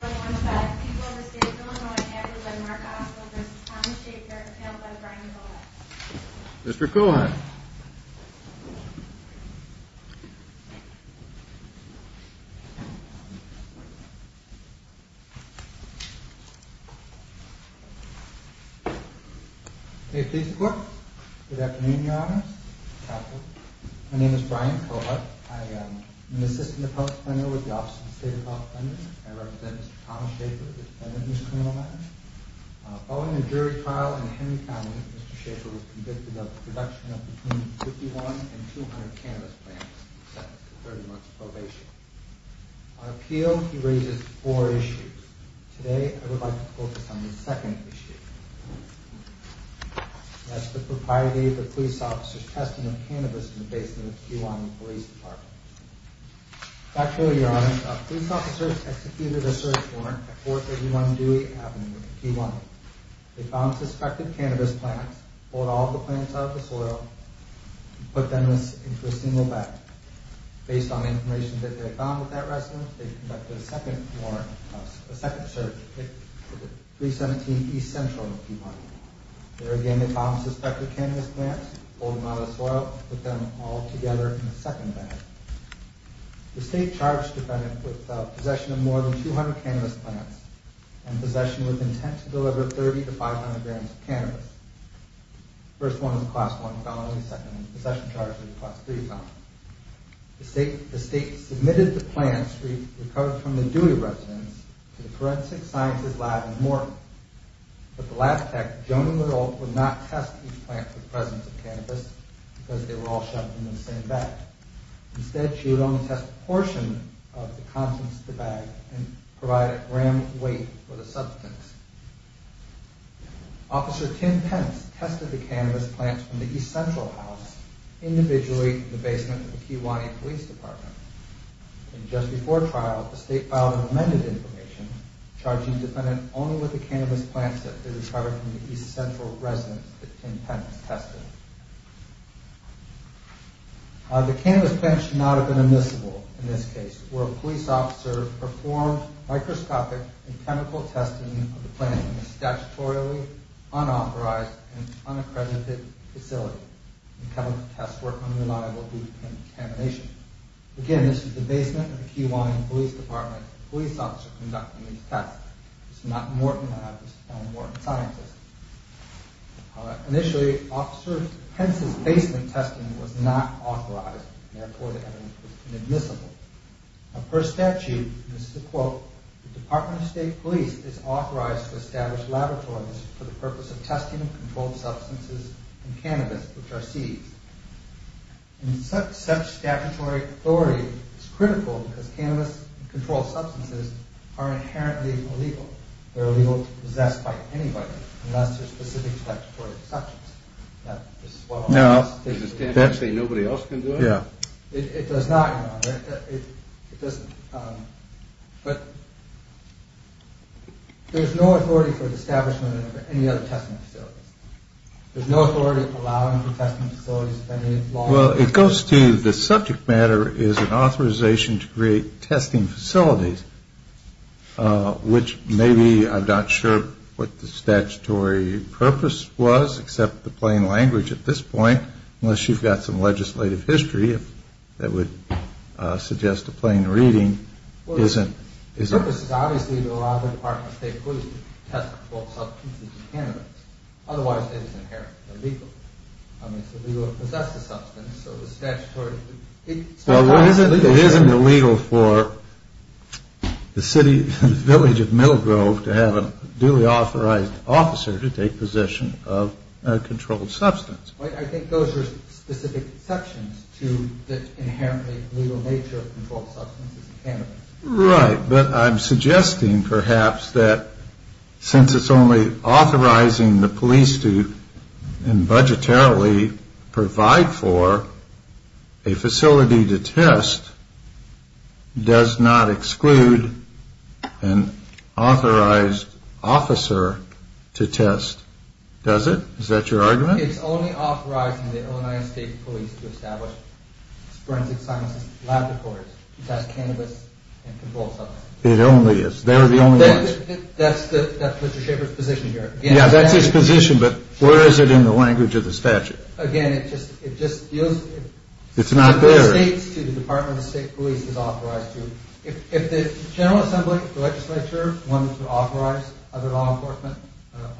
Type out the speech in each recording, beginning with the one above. and Mark Oswald v. Tom Schaefer, and paneled by Brian Kohut. Mr. Kohut. Okay, please report. Good afternoon, Your Honors. My name is Brian Kohut. I am an assistant appellate planner with the Office of the State of California. I represent Mr. Tom Schaefer, the defendant in this criminal matter. Following a jury trial in Henry County, Mr. Schaefer was convicted of the production of between 51 and 200 cannabis plants. He was sentenced to 30 months probation. On appeal, he raises four issues. Today, I would like to focus on the second issue. That's the propriety of the police officer's testing of cannabis in the basement of the Kew Lawn Police Department. Dr. O'Yara, a police officer executed a search warrant at 431 Dewey Avenue, Kew Lawn. They found suspected cannabis plants, pulled all the plants out of the soil, and put them into a single bag. Based on information that they found with that resident, they conducted a second warrant, a second search, at 317 East Central, Kew Lawn. There again, they found suspected cannabis plants, pulled them out of the soil, and put them all together in a second bag. The state charged the defendant with possession of more than 200 cannabis plants and possession with intent to deliver 30 to 500 grams of cannabis. The first one was a Class 1 felony, the second one was a possession charge with a Class 3 felony. The state submitted the plants recovered from the Dewey residence to the Forensic Sciences Lab in Morton, but the lab tech, Joan Liddle, would not test each plant for the presence of cannabis because they were all shoved into the same bag. Instead, she would only test a portion of the contents of the bag and provide a gram weight for the substance. Officer Tim Pence tested the cannabis plants from the East Central house, individually in the basement of the Kew Lawn Police Department. Just before trial, the state filed an amended information charging the defendant only with the cannabis plants that they recovered from the East Central residence that Tim Pence tested. The cannabis plants should not have been admissible in this case, where a police officer performed microscopic and chemical testing of the plant in a statutorily unauthorized and unaccredited facility. The chemical tests were unreliable due to contamination. Again, this is the basement of the Kew Lawn Police Department, a police officer conducting these tests. This is not Morton Labs, this is not a Morton scientist. Initially, Officer Pence's basement testing was not authorized, and therefore the evidence was inadmissible. Per statute, this is a quote, the Department of State Police is authorized to establish laboratories for the purpose of testing of controlled substances and cannabis which are seized. Such statutory authority is critical because cannabis and controlled substances are inherently illegal. They are illegal to possess by anybody unless there are specific statutory exceptions. Now, does this stand to say nobody else can do it? Yeah. It does not, Your Honor. It doesn't. But there's no authority for the establishment of any other testing facilities. There's no authority allowing for testing facilities of any law. Well, it goes to the subject matter is an authorization to create testing facilities, which maybe I'm not sure what the statutory purpose was, except the plain language at this point, unless you've got some legislative history that would suggest a plain reading. Well, the purpose is obviously to allow the Department of State Police to test controlled substances and cannabis. Otherwise, it is inherently illegal. I mean, it's illegal to possess the substance, so the statutory... Well, it isn't illegal for the city, the village of Middlegrove, to have a duly authorized officer to take possession of a controlled substance. I think those are specific exceptions to the inherently legal nature of controlled substances and cannabis. Right. But I'm suggesting, perhaps, that since it's only authorizing the police to budgetarily provide for a facility to test, does not exclude an authorized officer to test, does it? Is that your argument? It's only authorizing the Illinois State Police to establish forensic sciences lab departments to test cannabis and controlled substances. It only is. They're the only ones. That's Mr. Schaffer's position here. Yeah, that's his position, but where is it in the language of the statute? Again, it just feels... It's not there. It states to the Department of State Police it's authorized to. If the General Assembly, the legislature, wanted to authorize other law enforcement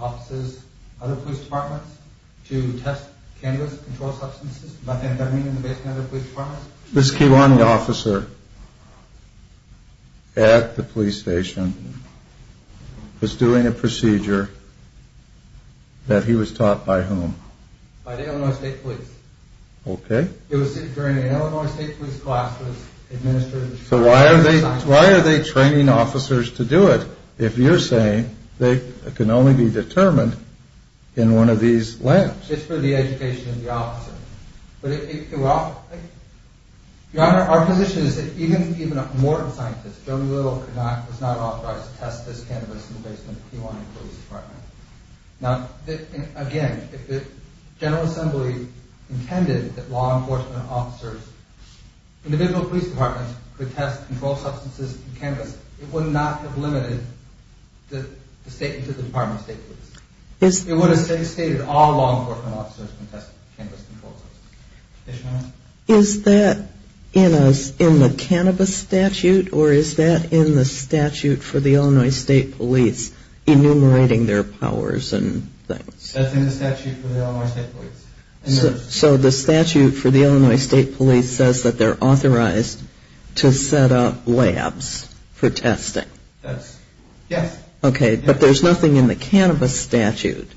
offices, other police departments, to test cannabis and controlled substances, by having them in the basement of other police departments... This Keewan officer at the police station was doing a procedure that he was taught by whom? By the Illinois State Police. Okay. It was during an Illinois State Police class that was administered... So why are they training officers to do it? If you're saying they can only be determined in one of these labs. It's for the education of the officer. Your Honor, our position is that even if more scientists, Jody Little was not authorized to test this cannabis in the basement of a Keewan police department. Now, again, if the General Assembly intended that law enforcement officers, individual police departments, could test controlled substances and cannabis, it would not have limited it to the Department of State Police. It would have stated all law enforcement officers can test cannabis and controlled substances. Is that in the cannabis statute or is that in the statute for the Illinois State Police enumerating their powers and things? That's in the statute for the Illinois State Police. So the statute for the Illinois State Police says that they're authorized to set up labs for testing? Yes. Okay. But there's nothing in the cannabis statute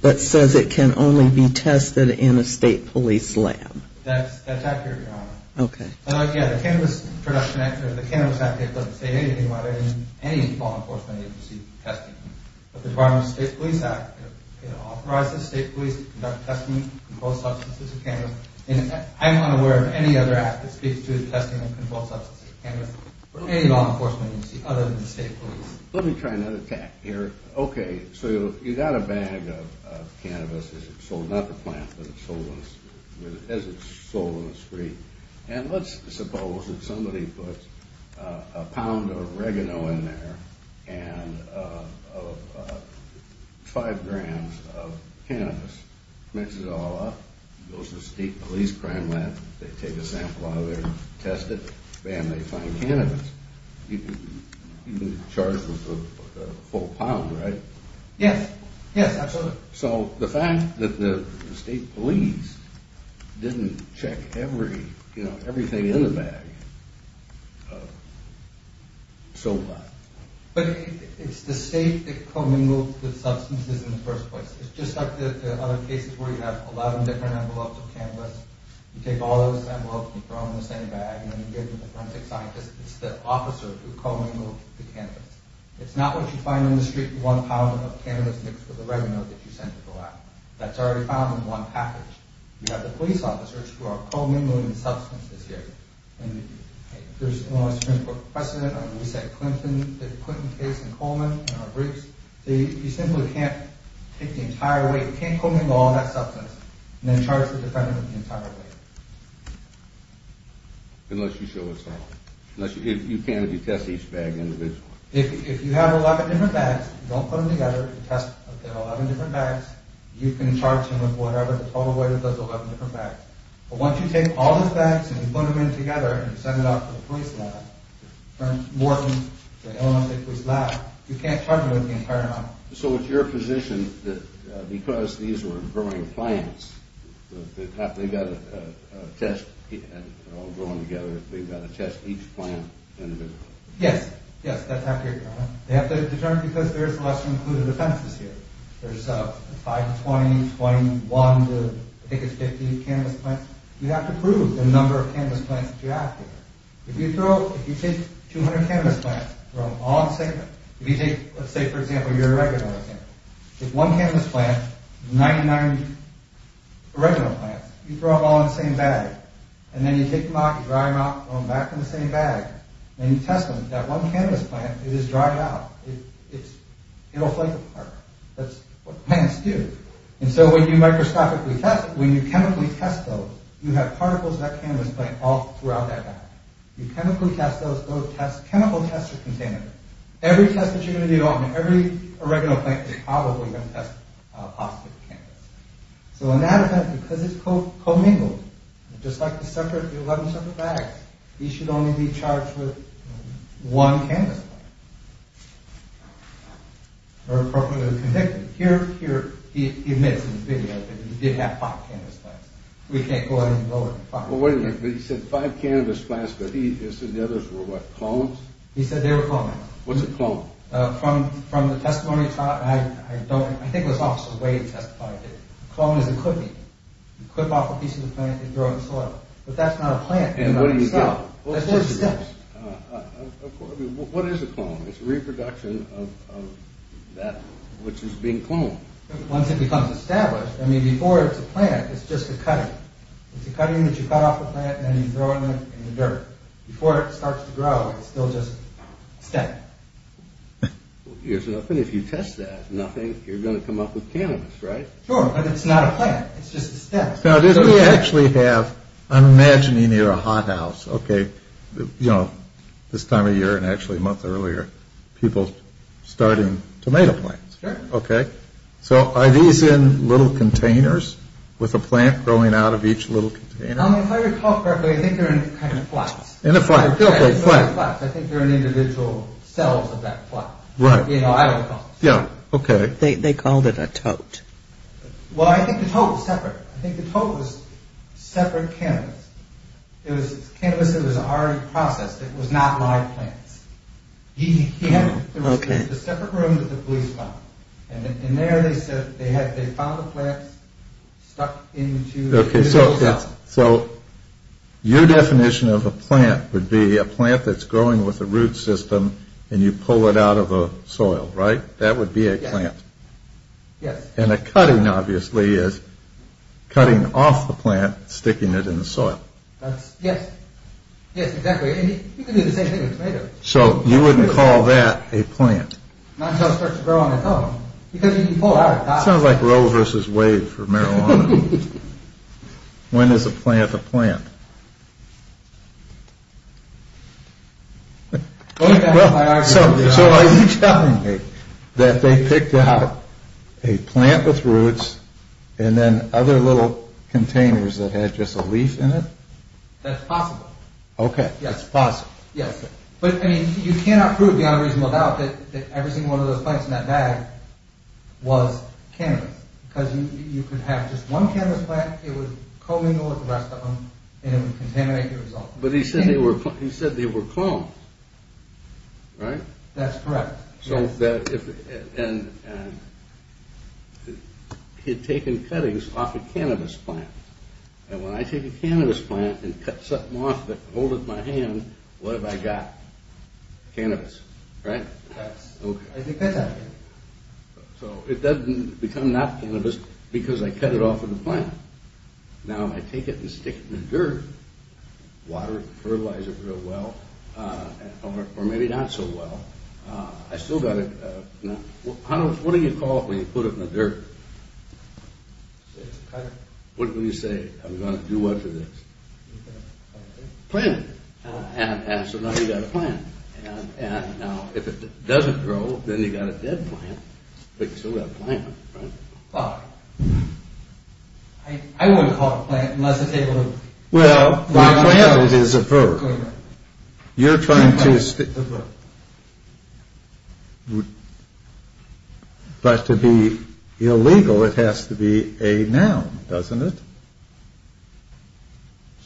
that says it can only be tested in a State Police lab. That's accurate, Your Honor. Okay. Again, the Cannabis Production Act, or the Cannabis Act, it doesn't say anything about it in any law enforcement agency testing. But the Department of State Police Act, it authorizes State Police to conduct testing of controlled substances and cannabis. I'm not aware of any other act that speaks to the testing of controlled substances and cannabis for any law enforcement agency other than the State Police. Let me try another tack here. Okay, so you've got a bag of cannabis as it's sold, not the plant, but as it's sold on the street. And let's suppose that somebody puts a pound of oregano in there and five grams of cannabis, mixes it all up, goes to the State Police crime lab, they take a sample out of there and test it, and they find cannabis. You've been charged with a full pound, right? Yes. Yes, absolutely. So the fact that the State Police didn't check everything in the bag, so what? But it's the State that commingled the substances in the first place. It's just like the other cases where you have 11 different envelopes of cannabis, you take all those envelopes, you throw them in the same bag, and you give them to forensic scientists, it's the officer who commingled the cannabis. It's not what you find on the street, one pound of cannabis mixed with the oregano that you sent to the lab. That's already found in one package. You have the police officers who are commingling the substances here. There's a Supreme Court precedent on the reset Clinton case in Coleman, in our briefs. You simply can't take the entire weight, you can't commingle all that substance, and then charge the defendant with the entire weight. Unless you show us something. You can if you test each bag individually. If you have 11 different bags, you don't put them together, you test 11 different bags, you can charge him with whatever the total weight of those 11 different bags. But once you take all those bags, and you put them in together, and you send it off to the police lab, turn it to Morton, to Illinois State Police Lab, you can't charge him with the entire amount. So it's your position that because these were growing plants, that they've got to test, they're all growing together, they've got to test each plant individually. Yes, yes, that's how it goes. They have to determine because there's less included offenses here. There's 520, 521, I think it's 50 cannabis plants. You have to prove the number of cannabis plants that you're asking for. If you take 200 cannabis plants, throw them all in the same bag. If you take, let's say for example, your original example. If one cannabis plant, 99 original plants, you throw them all in the same bag, and then you take them out, you dry them out, throw them back in the same bag, and you test them, that one cannabis plant, it is dried out. It'll flake apart. That's what plants do. And so when you microscopically test, when you chemically test those, you have particles of that cannabis plant all throughout that bag. You chemically test those, those tests, chemical tests are contained. Every test that you're going to do on every original plant is probably going to test a positive cannabis plant. So in that event, because it's co-mingled, just like the 11 separate bags, he should only be charged with one cannabis plant. Or appropriately convicted. Here, he admits in the video that he did have five cannabis plants. We can't go ahead and lower the bar. Well wait a minute, but he said five cannabis plants, but he said the others were what, clones? He said they were clones. What's a clone? From the testimony I don't, I think it was Officer Wade who testified that a clone is a clipping. You clip off a piece of the plant, you throw it in the soil. But that's not a plant. And what do you get? That's just a stem. Of course it is. What is a clone? It's a reproduction of that which is being cloned. Once it becomes established, I mean before it's a plant, it's just a cutting. It's a cutting that you cut off a plant and then you throw it in the dirt. Before it starts to grow, it's still just a stem. Well here's the thing, if you test that as nothing, you're going to come up with cannabis, right? Sure, but it's not a plant. It's just a stem. Now this we actually have, I'm imagining you're a hothouse, okay, you know, this time of year and actually a month earlier, people starting tomato plants. Sure. Okay. So are these in little containers with a plant growing out of each little container? If I recall correctly, I think they're in kind of flats. In a flat. Okay, flats. I think they're in individual cells of that flat. Right. You know, I don't recall. Yeah, okay. They called it a tote. Well, I think the tote was separate. I think the tote was separate cannabis. It was cannabis that was already processed. It was not live plants. Okay. There was a separate room that the police found. And there they said they found a plant stuck into individual cells. Okay, so your definition of a plant would be a plant that's growing with a root system and you pull it out of the soil, right? That would be a plant. Yes. And a cutting, obviously, is cutting off the plant, sticking it in the soil. Yes. Yes, exactly. And you can do the same thing with tomatoes. So you wouldn't call that a plant? Not until it starts to grow on its own. Because you can pull it out. When is a plant a plant? So are you telling me that they picked out a plant with roots and then other little containers that had just a leaf in it? That's possible. Okay, that's possible. Yes. But, I mean, you cannot prove beyond a reasonable doubt that every single one of those plants in that bag was cannabis. Because you could have just one cannabis plant, it would co-mingle with the rest of them, and it would contaminate the result. But he said they were clones, right? That's correct. And he had taken cuttings off a cannabis plant. And when I take a cannabis plant and cut something off of it and hold it in my hand, what have I got? Cannabis, right? I think that's accurate. So it doesn't become not cannabis because I cut it off of the plant. Now, if I take it and stick it in the dirt, water it, fertilize it real well, or maybe not so well, I still got it. What do you call it when you put it in the dirt? What do you say? I'm going to do what for this? Plant it. Plant it. And so now you've got a plant. Now, if it doesn't grow, then you've got a dead plant. But you still got a plant, right? Well, I wouldn't call it a plant unless it's able to... Well, the plant is a verb. You're trying to... But to be illegal, it has to be a noun, doesn't it?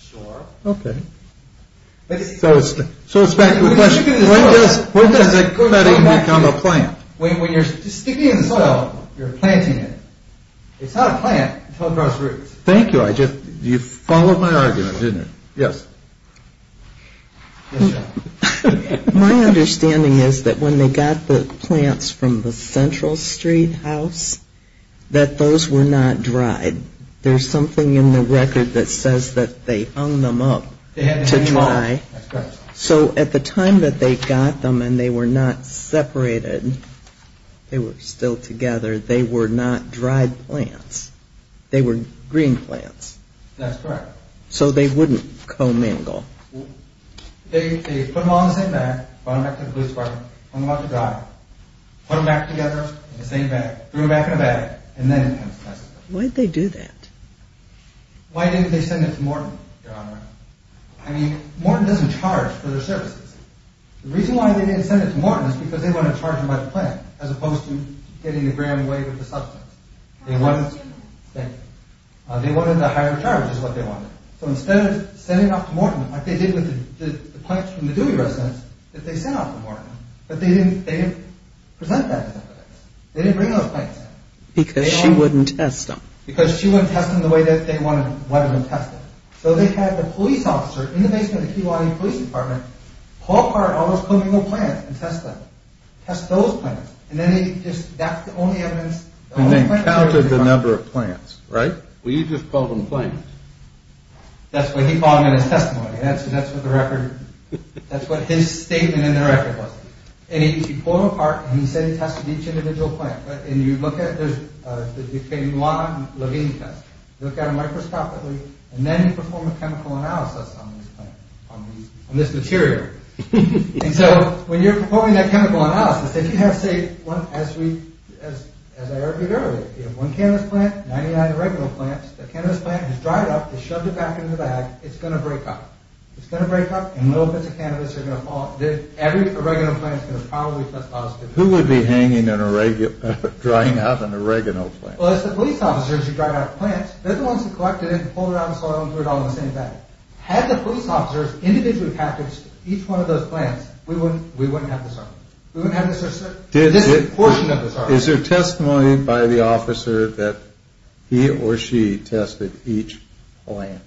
Sure. Okay. So it's back to the question. When does it become a plant? When you're sticking it in the soil, you're planting it. It's not a plant until it grows roots. Thank you. You followed my argument, didn't you? Yes. My understanding is that when they got the plants from the Central Street house, that those were not dried. There's something in the record that says that they hung them up to dry. That's correct. So at the time that they got them and they were not separated, they were still together, they were not dried plants. They were green plants. That's correct. So they wouldn't co-mangle. They put them all in the same bag, brought them back to the blue department, hung them up to dry, put them back together in the same bag, threw them back in a bag, and then... Why'd they do that? Why didn't they send it to Morton, Your Honor? I mean, Morton doesn't charge for their services. The reason why they didn't send it to Morton is because they wanted to charge them by the plant, as opposed to getting the gram away with the substance. They wanted the higher charge, is what they wanted. So instead of sending it off to Morton, like they did with the plants from the Dewey residence, that they sent off to Morton. But they didn't present that to them. They didn't bring those plants. Because she wouldn't test them. Because she wouldn't test them the way that they wanted them tested. So they had the police officer in the basement of the Keewaunee Police Department pull apart all those co-mangled plants and test them. Test those plants. And that's the only evidence... And they counted the number of plants, right? Well, you just called them plants. That's what he called them in his testimony. And that's what the record... That's what his statement in the record was. And he pulled them apart, and he said he tested each individual plant. And you look at it, there's... It became Lana and Levine tests. You look at them microscopically, and then you perform a chemical analysis on these plants, on this material. And so when you're performing that chemical analysis, if you have, say, as I argued earlier, if you have one cannabis plant, 99 oregano plants, the cannabis plant has dried up, it's shoved it back in the bag, it's going to break up. It's going to break up, and little bits of cannabis are going to fall... Every oregano plant is going to probably test positive. Who would be hanging an oregano... drying out an oregano plant? Well, it's the police officers who dry out plants. They're the ones who collected it and pulled it out of the soil and threw it all in the same bag. Had the police officers individually packaged each one of those plants, we wouldn't have this argument. We wouldn't have this portion of this argument. Is there testimony by the officer that he or she tested each plant?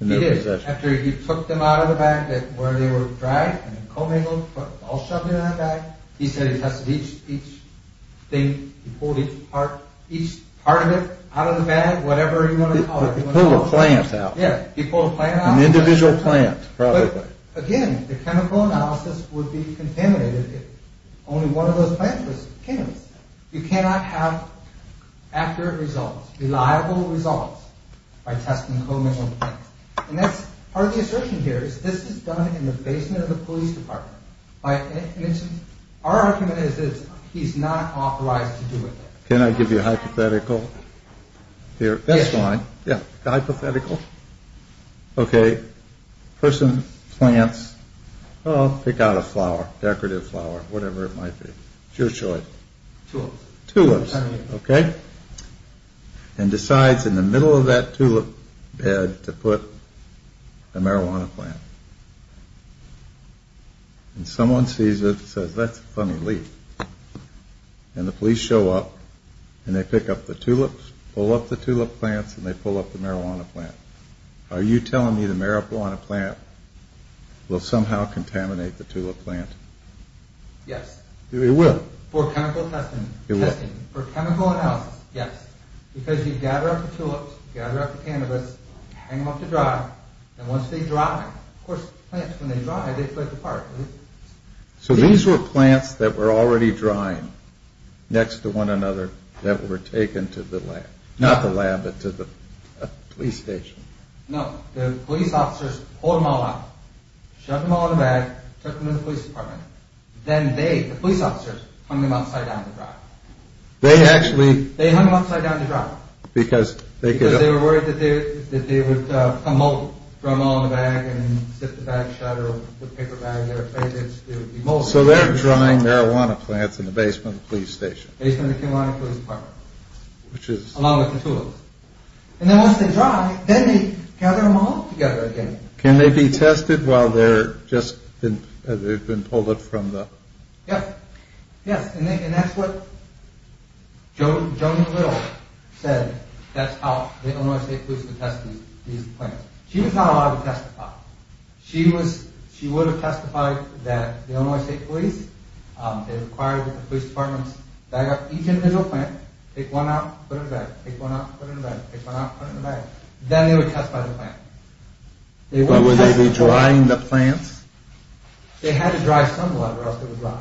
He did. After he took them out of the bag where they were dry, and then commingled, all shoved in that bag, he said he tested each thing, he pulled each part of it out of the bag, whatever you want to call it. He pulled a plant out. Yeah, he pulled a plant out. An individual plant, probably. Again, the chemical analysis would be contaminated if only one of those plants was chemicals. You cannot have accurate results, reliable results, by testing chemicals on plants. And that's part of the assertion here, is this is done in the basement of the police department. Our argument is that he's not authorized to do it. Can I give you a hypothetical here? That's fine. Yeah. A hypothetical. Okay. A person plants... Sure, show it. Tulips. Tulips. Okay. And decides in the middle of that tulip bed to put a marijuana plant. And someone sees it and says, that's a funny leaf. And the police show up, and they pick up the tulips, pull up the tulip plants, and they pull up the marijuana plant. Are you telling me the marijuana plant will somehow contaminate the tulip plant? Yes. It will? For chemical testing. It will. For chemical analysis, yes. Because you gather up the tulips, gather up the cannabis, hang them up to dry, and once they dry, of course, plants, when they dry, they split apart. So these were plants that were already drying next to one another that were taken to the lab. Not the lab, but to the police station. No. The police officers pulled them all out, shoved them all in a bag, took them to the police department. Then they, the police officers, hung them upside down to dry. They actually... They hung them upside down to dry. Because they could... Because they were worried that they would become moldy. Throw them all in a bag and sit the bag shut or put a paper bag in there. It would be moldy. So they're drying marijuana plants in the basement of the police station. Basement of the Kenilonia Police Department. Along with the tulips. And then once they dry, then they gather them all together again. Can they be tested while they're just... They've been pulled up from the... Yes. Yes. And that's what Joan Little said. That's how the Illinois State Police would test these plants. She was not allowed to testify. She was... She would have testified that the Illinois State Police, they required that the police departments bag up each individual plant. Take one out, put it in a bag. Take one out, put it in a bag. Then they would test by the plant. But would they be drying the plants? They had to dry some of them or else they would rot.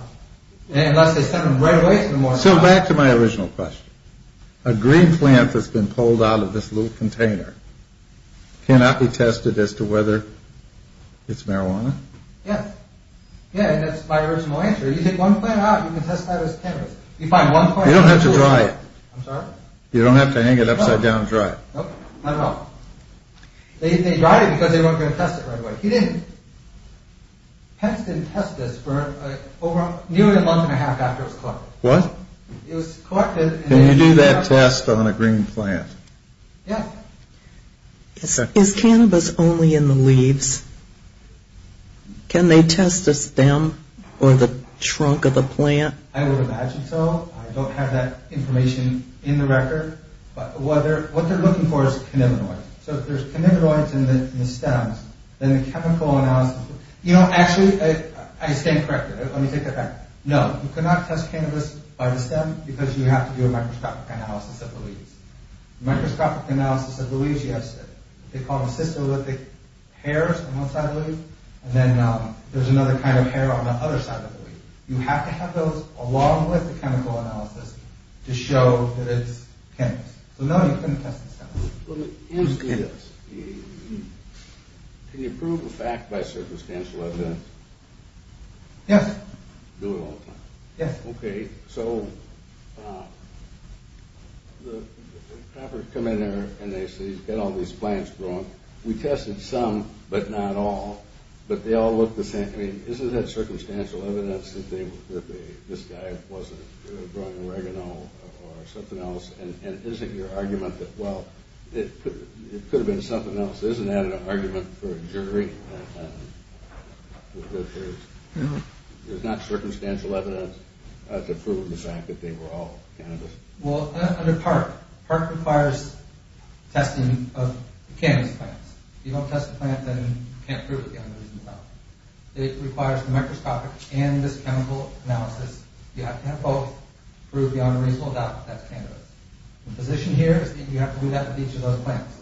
Unless they sent them right away to the morgue. So back to my original question. A green plant that's been pulled out of this little container cannot be tested as to whether it's marijuana? Yes. Yeah, and that's my original answer. You take one plant out, you can test that as tannin. You don't have to dry it. You don't have to hang it upside down dry. Nope, not at all. They dried it because they weren't going to test it right away. He didn't. Pence didn't test this for nearly a month and a half after it was collected. What? It was collected... Can you do that test on a green plant? Yeah. Is cannabis only in the leaves? Can they test the stem or the trunk of the plant? I would imagine so. I don't have that information in the record. What they're looking for is cannabinoids. So if there's cannabinoids in the stems, then the chemical analysis... You know, actually, I stand corrected. Let me take that back. No, you cannot test cannabis by the stem because you have to do a microscopic analysis of the leaves. Microscopic analysis of the leaves, yes. They call them systolithic hairs on one side of the leaf, and then there's another kind of hair on the other side of the leaf. You have to have those along with the chemical analysis to show that it's cannabis. So no, you couldn't test the stem. Well, here's the thing. Can you prove a fact by circumstantial evidence? Yes. Do it all the time? Yes. Okay, so... The coppers come in there and they say, he's got all these plants growing. We tested some, but not all. But they all look the same. I mean, isn't that circumstantial evidence that this guy wasn't growing oregano or something else? And isn't your argument that, well, it could have been something else? Isn't that an argument for a jury? There's not circumstantial evidence to prove the fact that they were all cannabis. Well, under PARC. PARC requires testing of cannabis plants. If you don't test the plant, then you can't prove it's cannabis. It requires microscopic and this chemical analysis. You have to have both to prove the unreasonable doubt that that's cannabis. The position here is that you have to do that with each of those plants.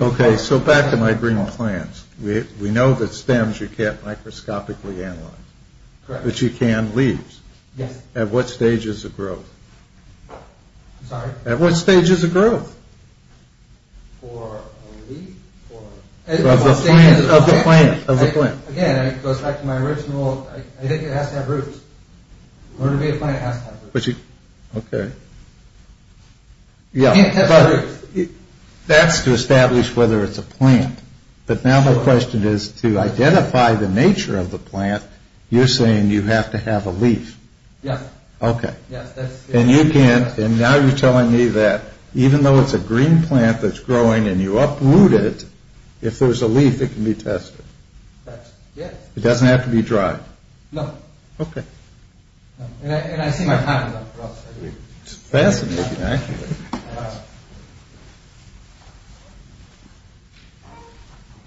Okay, so back to my green plants. We know that stems you can't microscopically analyze. Correct. But you can leaves. Yes. At what stage is a growth? I'm sorry? At what stage is a growth? For a leaf? Of the plant, of the plant. Again, it goes back to my original, I think it has to have roots. In order to be a plant, it has to have roots. Okay. Yeah, but that's to establish whether it's a plant. But now the question is, to identify the nature of the plant, you're saying you have to have a leaf. Yes. Okay. And you can't, and now you're telling me that even though it's a green plant that's growing and you uproot it, if there's a leaf, it can be tested. Correct, yes. It doesn't have to be dried. No. Okay. And I see my time is up for us. It's fascinating, actually.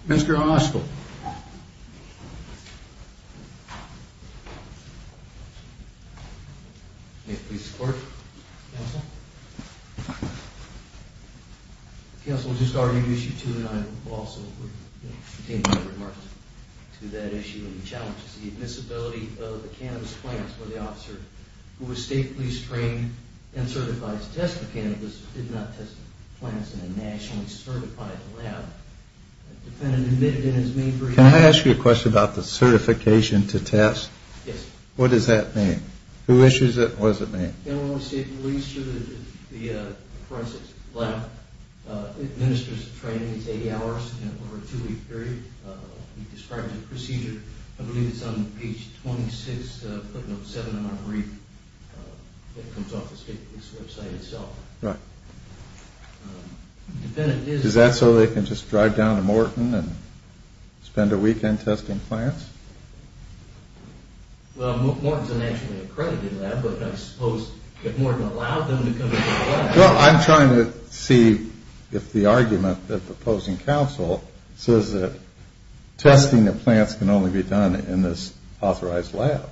Mr. Oshkel. May it please the Court, counsel? The counsel just argued Issue 2, and I will also continue my remarks to that issue and the challenges. The admissibility of the cannabis plants where the officer who was state police trained and certified to test the cannabis did not test the plants in a nationally certified lab. The defendant admitted in his main brief... Can I ask you a question about the certification to test? Yes. What does that mean? Who issues it and what does it mean? The general state police lab administers the training. It's 80 hours over a two-week period. We describe the procedure. I believe it's on page 26, footnote 7 of our brief that comes off the state police website itself. Right. The defendant is... Is that so they can just drive down to Morton and spend a weekend testing plants? Well, Morton's a nationally accredited lab, but I suppose if Morton allowed them to come into the lab... Well, I'm trying to see if the argument that the opposing counsel says that testing the plants can only be done in this authorized lab.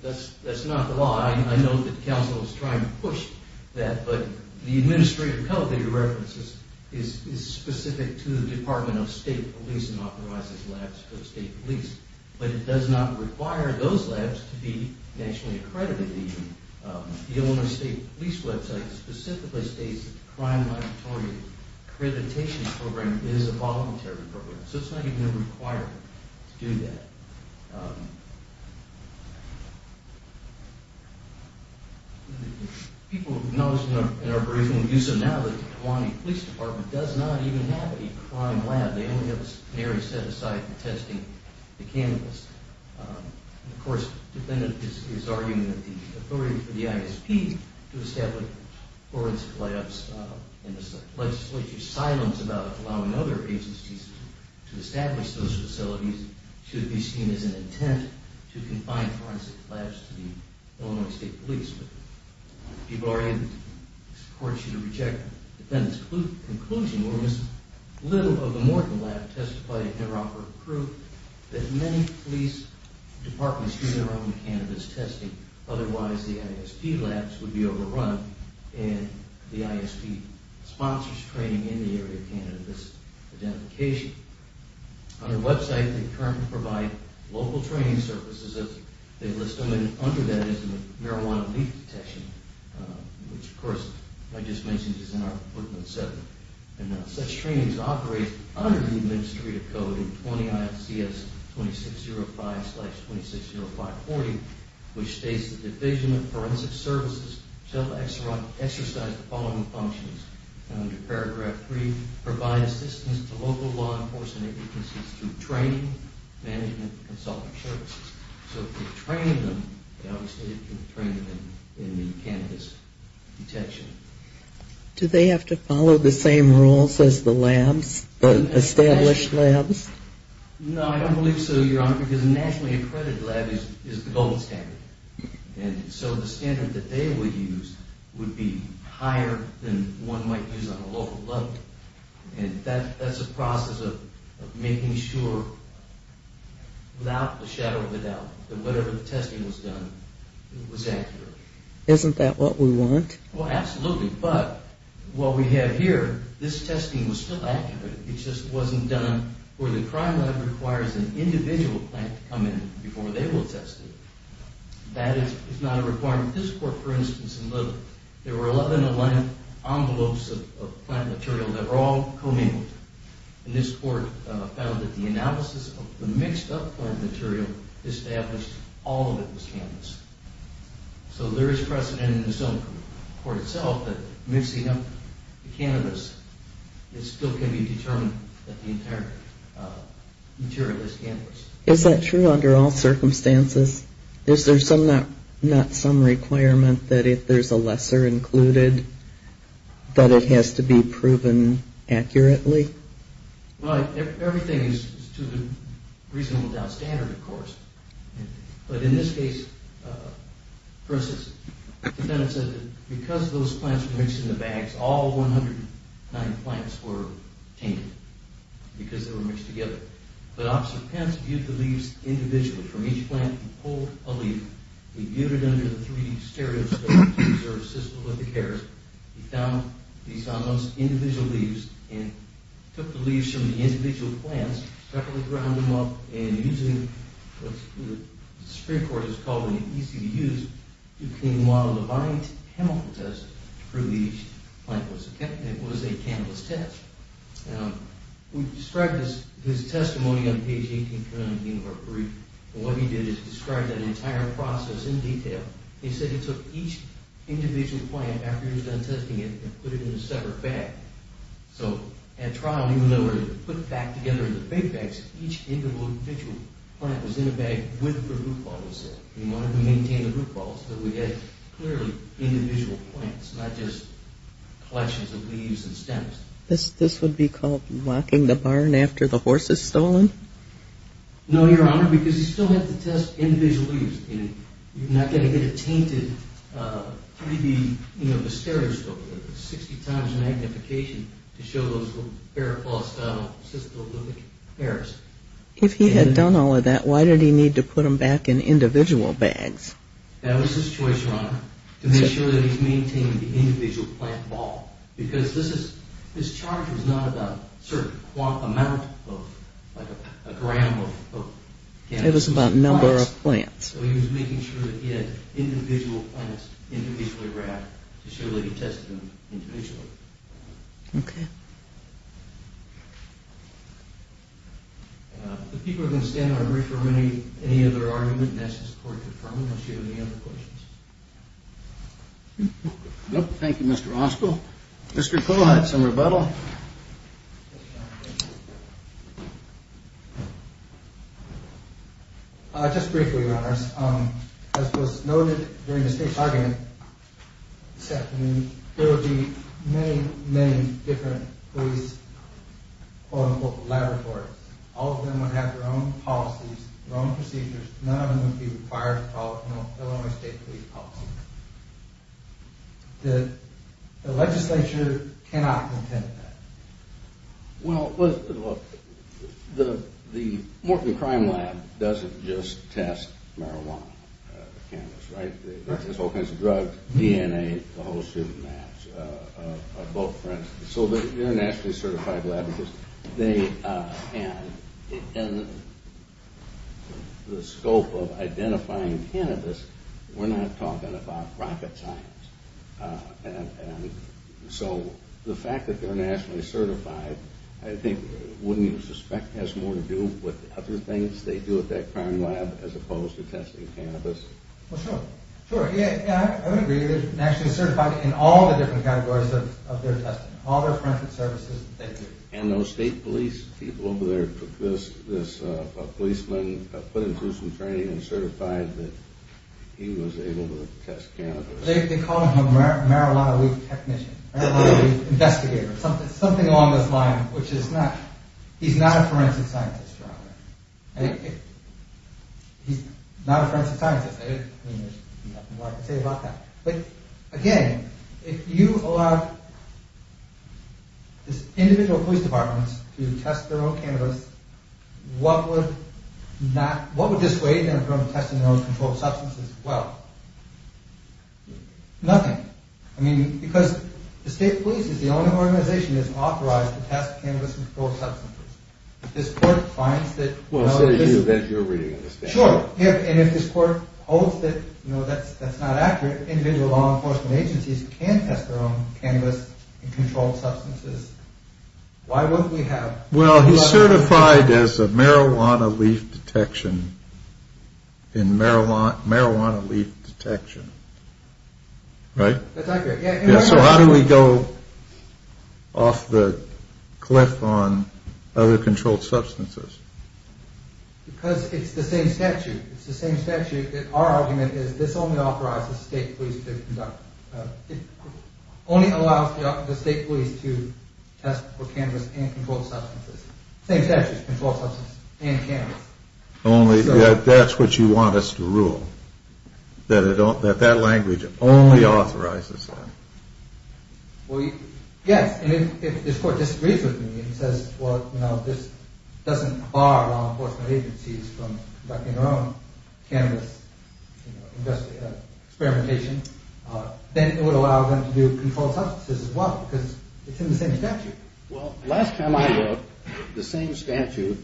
That's not the law. I know that counsel is trying to push that, but the administrative code that he references is specific to the Department of State Police and authorizes labs for the state police, but it does not require those labs to be nationally accredited. The Illinois State Police website specifically states that the crime laboratory accreditation program is a voluntary program, so it's not even a requirement to do that. People have acknowledged in our brief and we use them now that the Kewaunee Police Department does not even have a crime lab. They only have a secondary set aside for testing the cannabis. Of course, the defendant is arguing that the authority for the ISP to establish forensic labs in this legislature silence about allowing other agencies to establish those facilities should be seen as an intent to confine forensic labs to the Illinois State Police. People are in support. Should I reject the defendant's conclusion where Ms. Little of the Morton lab testified in her offer of proof that many police departments do their own cannabis testing. Otherwise, the ISP labs would be overrun and the ISP sponsors training in the area of cannabis identification. On their website, they currently provide local training services as they list them, and under that is marijuana leaf detection, which, of course, I just mentioned is in our footnote 7. And such trainings operate under the Administrative Code 20 IFCS 2605-260540, which states the Division of Forensic Services shall exercise the following functions. Under paragraph 3, provide assistance to local law enforcement agencies through training, management, and consulting services. So if they train them, they obviously can train them in the cannabis detection. Do they have to follow the same rules as the labs, the established labs? No, I don't believe so, Your Honor, because a nationally accredited lab is the golden standard. And so the standard that they would use would be higher than one might use on a local level. And that's a process of making sure without a shadow of a doubt that whatever the testing was done was accurate. Isn't that what we want? Well, absolutely, but what we have here, this testing was still accurate. It just wasn't done where the crime lab requires an individual plant to come in before they will test it. That is not a requirement. This court, for instance, in Little, there were 11-11 envelopes of plant material that were all co-mingled. And this court found that the analysis of the mixed-up plant material established all of it was cannabis. So there is precedent in this own court itself that mixing up the cannabis still can be determined that the entire material is cannabis. Is that true under all circumstances? Is there not some requirement that if there is a lesser included that it has to be proven accurately? Everything is to the reasonable doubt standard, of course. But in this case, for instance, the defendant said that because those plants were mixed in the bags, all 109 plants were tainted because they were mixed together. But Officer Pence viewed the leaves individually from each plant and pulled a leaf. He viewed it under the 3D stereoscope to observe systolithic errors. He found those individual leaves and took the leaves from the individual plants, separately ground them up, and using what the Supreme Court has called an easy-to-use, you can model a violent chemical test to prove each plant was a cannabis test. We described his testimony on page 18 of the University of New York brief. And what he did is describe that entire process in detail. He said he took each individual plant after he was done testing it and put it in a separate bag. So at trial, even though it was put back together into big bags, each individual plant was in a bag with the root ball, he said. He wanted to maintain the root ball so that we had clearly individual plants, not just collections of leaves and stems. This would be called locking the barn after the horse is stolen? No, Your Honor, because he still had to test individual leaves. You're not going to get a tainted 3D stereoscope with 60 times magnification to show those bare, false systolithic errors. If he had done all of that, why did he need to put them back in individual bags? That was his choice, Your Honor, to make sure that he maintained the individual plant ball. Because this charge was not about a certain amount, like a gram of cannabis. It was about number of plants. So he was making sure that he had individual plants individually wrapped to show that he tested them individually. Okay. If people are going to stand, I'm ready for any other argument. Unless you have any other questions. No, thank you, Mr. Oskil. Mr. Poole had some rebuttal. Just briefly, Your Honors. As was noted during the state's argument, there would be many, many different police, quote-unquote, laboratories. All of them would have their own policies, their own procedures. None of them would be required to follow Illinois State Police policies. The legislature cannot contend with that. Well, look, the Morton Crime Lab doesn't just test marijuana, the cannabis, right? There's all kinds of drugs, DNA, the whole shooting match. So they're a nationally certified lab. And the scope of identifying cannabis, we're not talking about rocket science. So the fact that they're nationally certified, I think, wouldn't you suspect, has more to do with other things they do at that crime lab as opposed to testing cannabis? Well, sure. I would agree. They're nationally certified in all the different categories of their testing, all their forensic services that they do. And those state police people over there took this policeman, put him through some training, and certified that he was able to test cannabis. They called him a marijuana weed technician, marijuana weed investigator, something along those lines, which he's not. He's not a forensic scientist, Your Honor. He's not a forensic scientist. I mean, there's nothing more I can say about that. But again, if you allowed these individual police departments to test their own cannabis, what would dissuade them from testing their own controlled substances as well? Nothing. I mean, because the state police is the only organization that's authorized to test cannabis controlled substances. If this court finds that... Well, it's not you. That's your reading of this case. Sure. And if this court holds that that's not accurate, that individual law enforcement agencies can test their own cannabis and controlled substances, why wouldn't we have... Well, he's certified as a marijuana leaf detection in marijuana leaf detection. Right? That's accurate. So how do we go off the cliff on other controlled substances? Because it's the same statute. It's the same statute. Our argument is that this only authorizes state police to conduct... It only allows the state police to test for cannabis and controlled substances. The same statute for controlled substances and cannabis. That's what you want us to rule? That that language only authorizes that? Yes. And if this court disagrees with me and says, well, this doesn't bar law enforcement agencies from conducting their own cannabis experimentation, then it would allow them to do controlled substances as well because it's in the same statute. Well, last time I looked, the same statute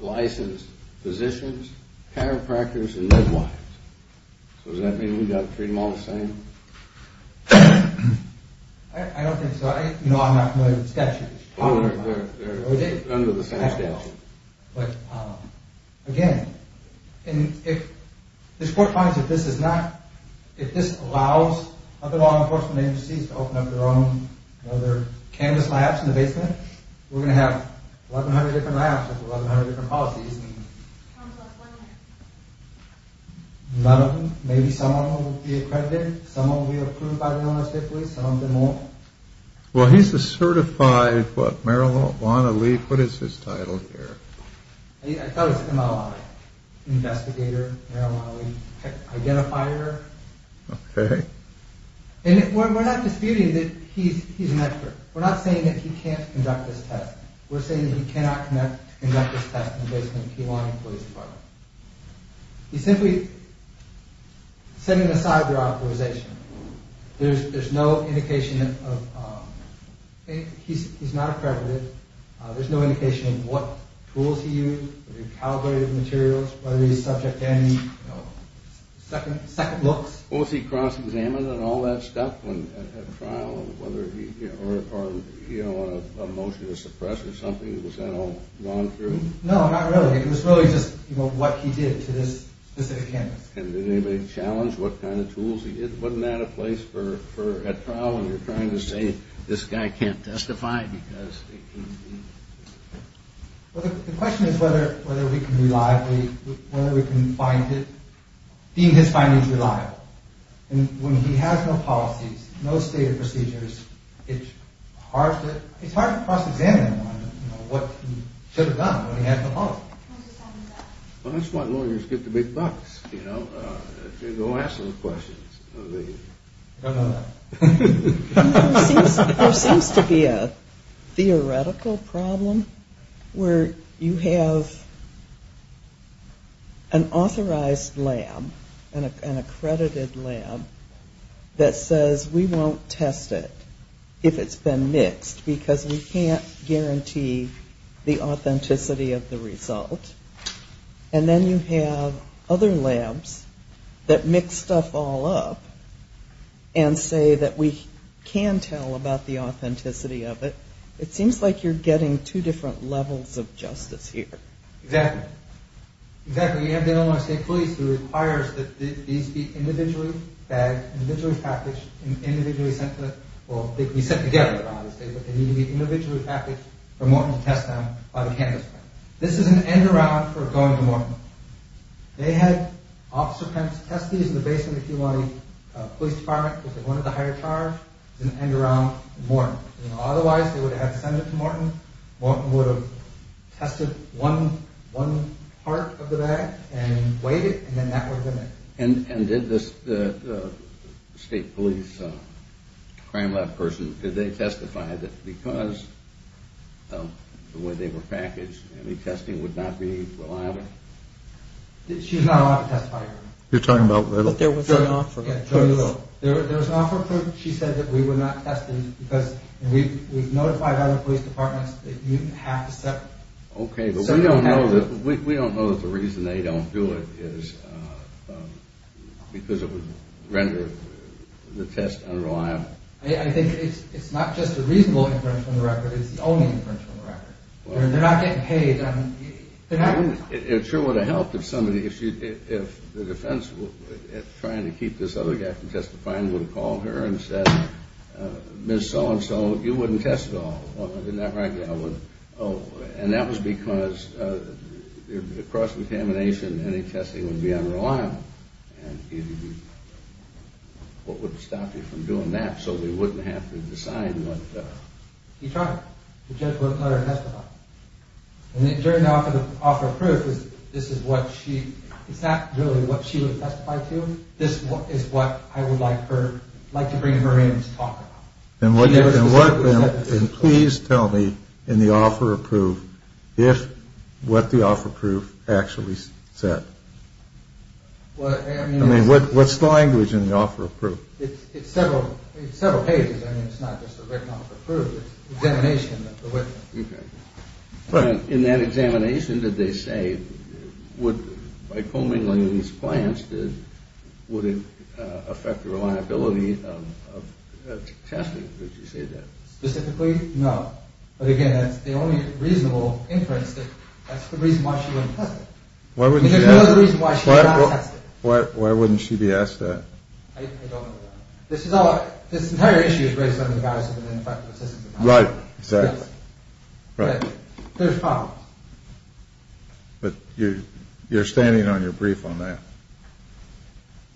licensed physicians, chiropractors, and midwives. So does that mean we've got to treat them all the same? I don't think so. I'm not familiar with the statute. They're under the same statute. But again, if this court finds that this is not... If this allows other law enforcement agencies to open up their own other cannabis labs in the basement, we're going to have 1,100 different labs with 1,100 different policies. Maybe some of them will be accredited, some of them will be approved by the Illinois State Police, some of them won't. Well, he's a certified... marijuana leaf. What is his title here? I thought it was MLI. Investigator Marijuana Leaf. Identifier. Okay. And we're not disputing that he's an expert. We're not saying that he can't conduct this test. We're saying that he cannot conduct this test in the basement of the Illinois Police Department. He's simply setting aside their authorization. There's no indication of... He's not accredited. There's no indication of what tools he used, whether he calibrated materials, whether he was subject to any second looks. Was he cross-examined and all that stuff at trial? Or on a motion to suppress or something? Was that all gone through? No, not really. It was really just what he did to this specific cannabis. And did anybody challenge what kind of tools he did? Wasn't that a place for... You're trying to say this guy can't testify because... Well, the question is whether we can reliably... whether we can find it... deem his findings reliable. And when he has no policies, no stated procedures, it's hard to cross-examine what he should have done when he had no policies. Well, that's why lawyers get the big bucks, you know. They go ask those questions. Come on. There seems to be a theoretical problem where you have an authorized lab, an accredited lab, that says we won't test it if it's been mixed because we can't guarantee the authenticity of the result. And then you have other labs that mix stuff all up and say that we can tell about the authenticity of it. It seems like you're getting two different levels of justice here. Exactly. Exactly. You have the Illinois State Police who requires that these be individually bagged, individually packaged, individually sent to... Well, they can be sent together, obviously, but they need to be individually packaged for more than to test them on a cannabis plant. This is an end-around for going to Morton. They had officer testees in the basement of the Illinois Police Department because they wanted the higher charge. It's an end-around at Morton. Otherwise, they would have had to send it to Morton. Morton would have tested one part of the bag and weighed it, and then that would have been it. And did the state police crime lab person, did they testify that because of the way they were packaged any testing would not be reliable? She was not allowed to testify. You're talking about... There was an offer of proof. There was an offer of proof. She said that we were not tested because we've notified other police departments that you have to set... Okay, but we don't know that the reason they don't do it is because it would render the test unreliable. It's the only inference from the record. They're not getting paid. It sure would have helped if somebody, if the defense were trying to keep this other guy from testifying, would have called her and said, Ms. So-and-so, you wouldn't test at all. And that was because the cross-contamination, any testing would be unreliable. And what would stop you from doing that so they wouldn't have to decide what... And during the offer of proof, this is what she... It's not really what she would testify to. This is what I would like her... like to bring her in to talk about. And what... And please tell me in the offer of proof if what the offer of proof actually said. I mean, what's the language in the offer of proof? It's several pages. I mean, it's not just a written offer of proof. It's an examination. Okay. In that examination, did they say, by combing these plants, would it affect the reliability of testing? Did she say that? Specifically, no. But again, that's the only reasonable inference. That's the reason why she wouldn't test it. I mean, there's no other reason why she would not test it. Why wouldn't she be asked that? I don't know that. This is all... Right, exactly. Right. There's problems. But you're standing on your brief on that.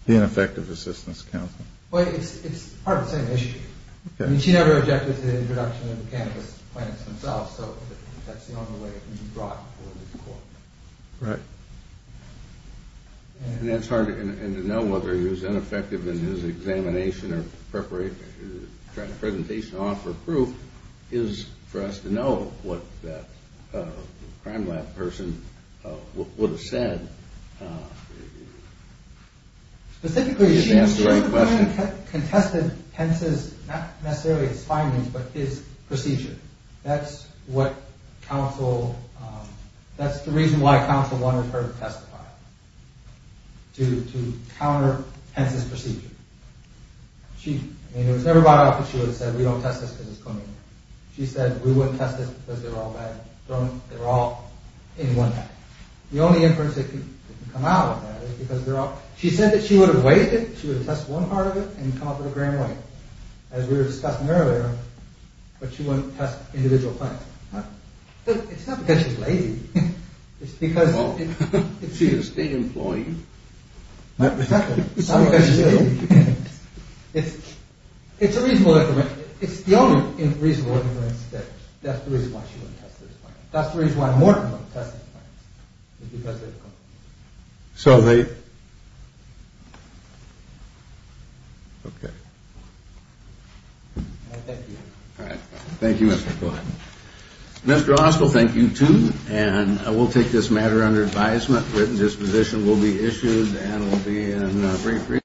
The ineffective assistance counselor. Well, it's part of the same issue. I mean, she never objected to the introduction of the cannabis plants themselves, so that's the only way it can be brought before the court. Right. And it's hard to know whether he was ineffective in his examination or tried the presentation on for proof, is for us to know what that crime lab person would have said. Specifically, she would have contested Pence's, not necessarily his findings, but his procedure. That's what counsel... That's the reason why counsel wanted her to testify, to counter Pence's procedure. I mean, it was never brought up that she would have said, we don't test this because it's clean. She said, we wouldn't test this because they're all bad. They're all in one pack. The only inference that can come out of that is because they're all... She said that she would have weighed it, she would have tested one part of it, and come up with a grand weight. As we were discussing earlier, but she wouldn't test individual plants. It's not because she's lazy. It's because... She's a state employee. It's not because she's ill. It's a reasonable inference. It's the only reasonable inference that that's the reason why she wouldn't test those plants. That's the reason why Morton wouldn't test those plants. It's because they're... So they... Okay. Thank you. All right. Thank you, Mr. McCoy. Mr. Oswald, thank you, too. And we'll take this matter under advisement. Written disposition will be issued and will be in brief...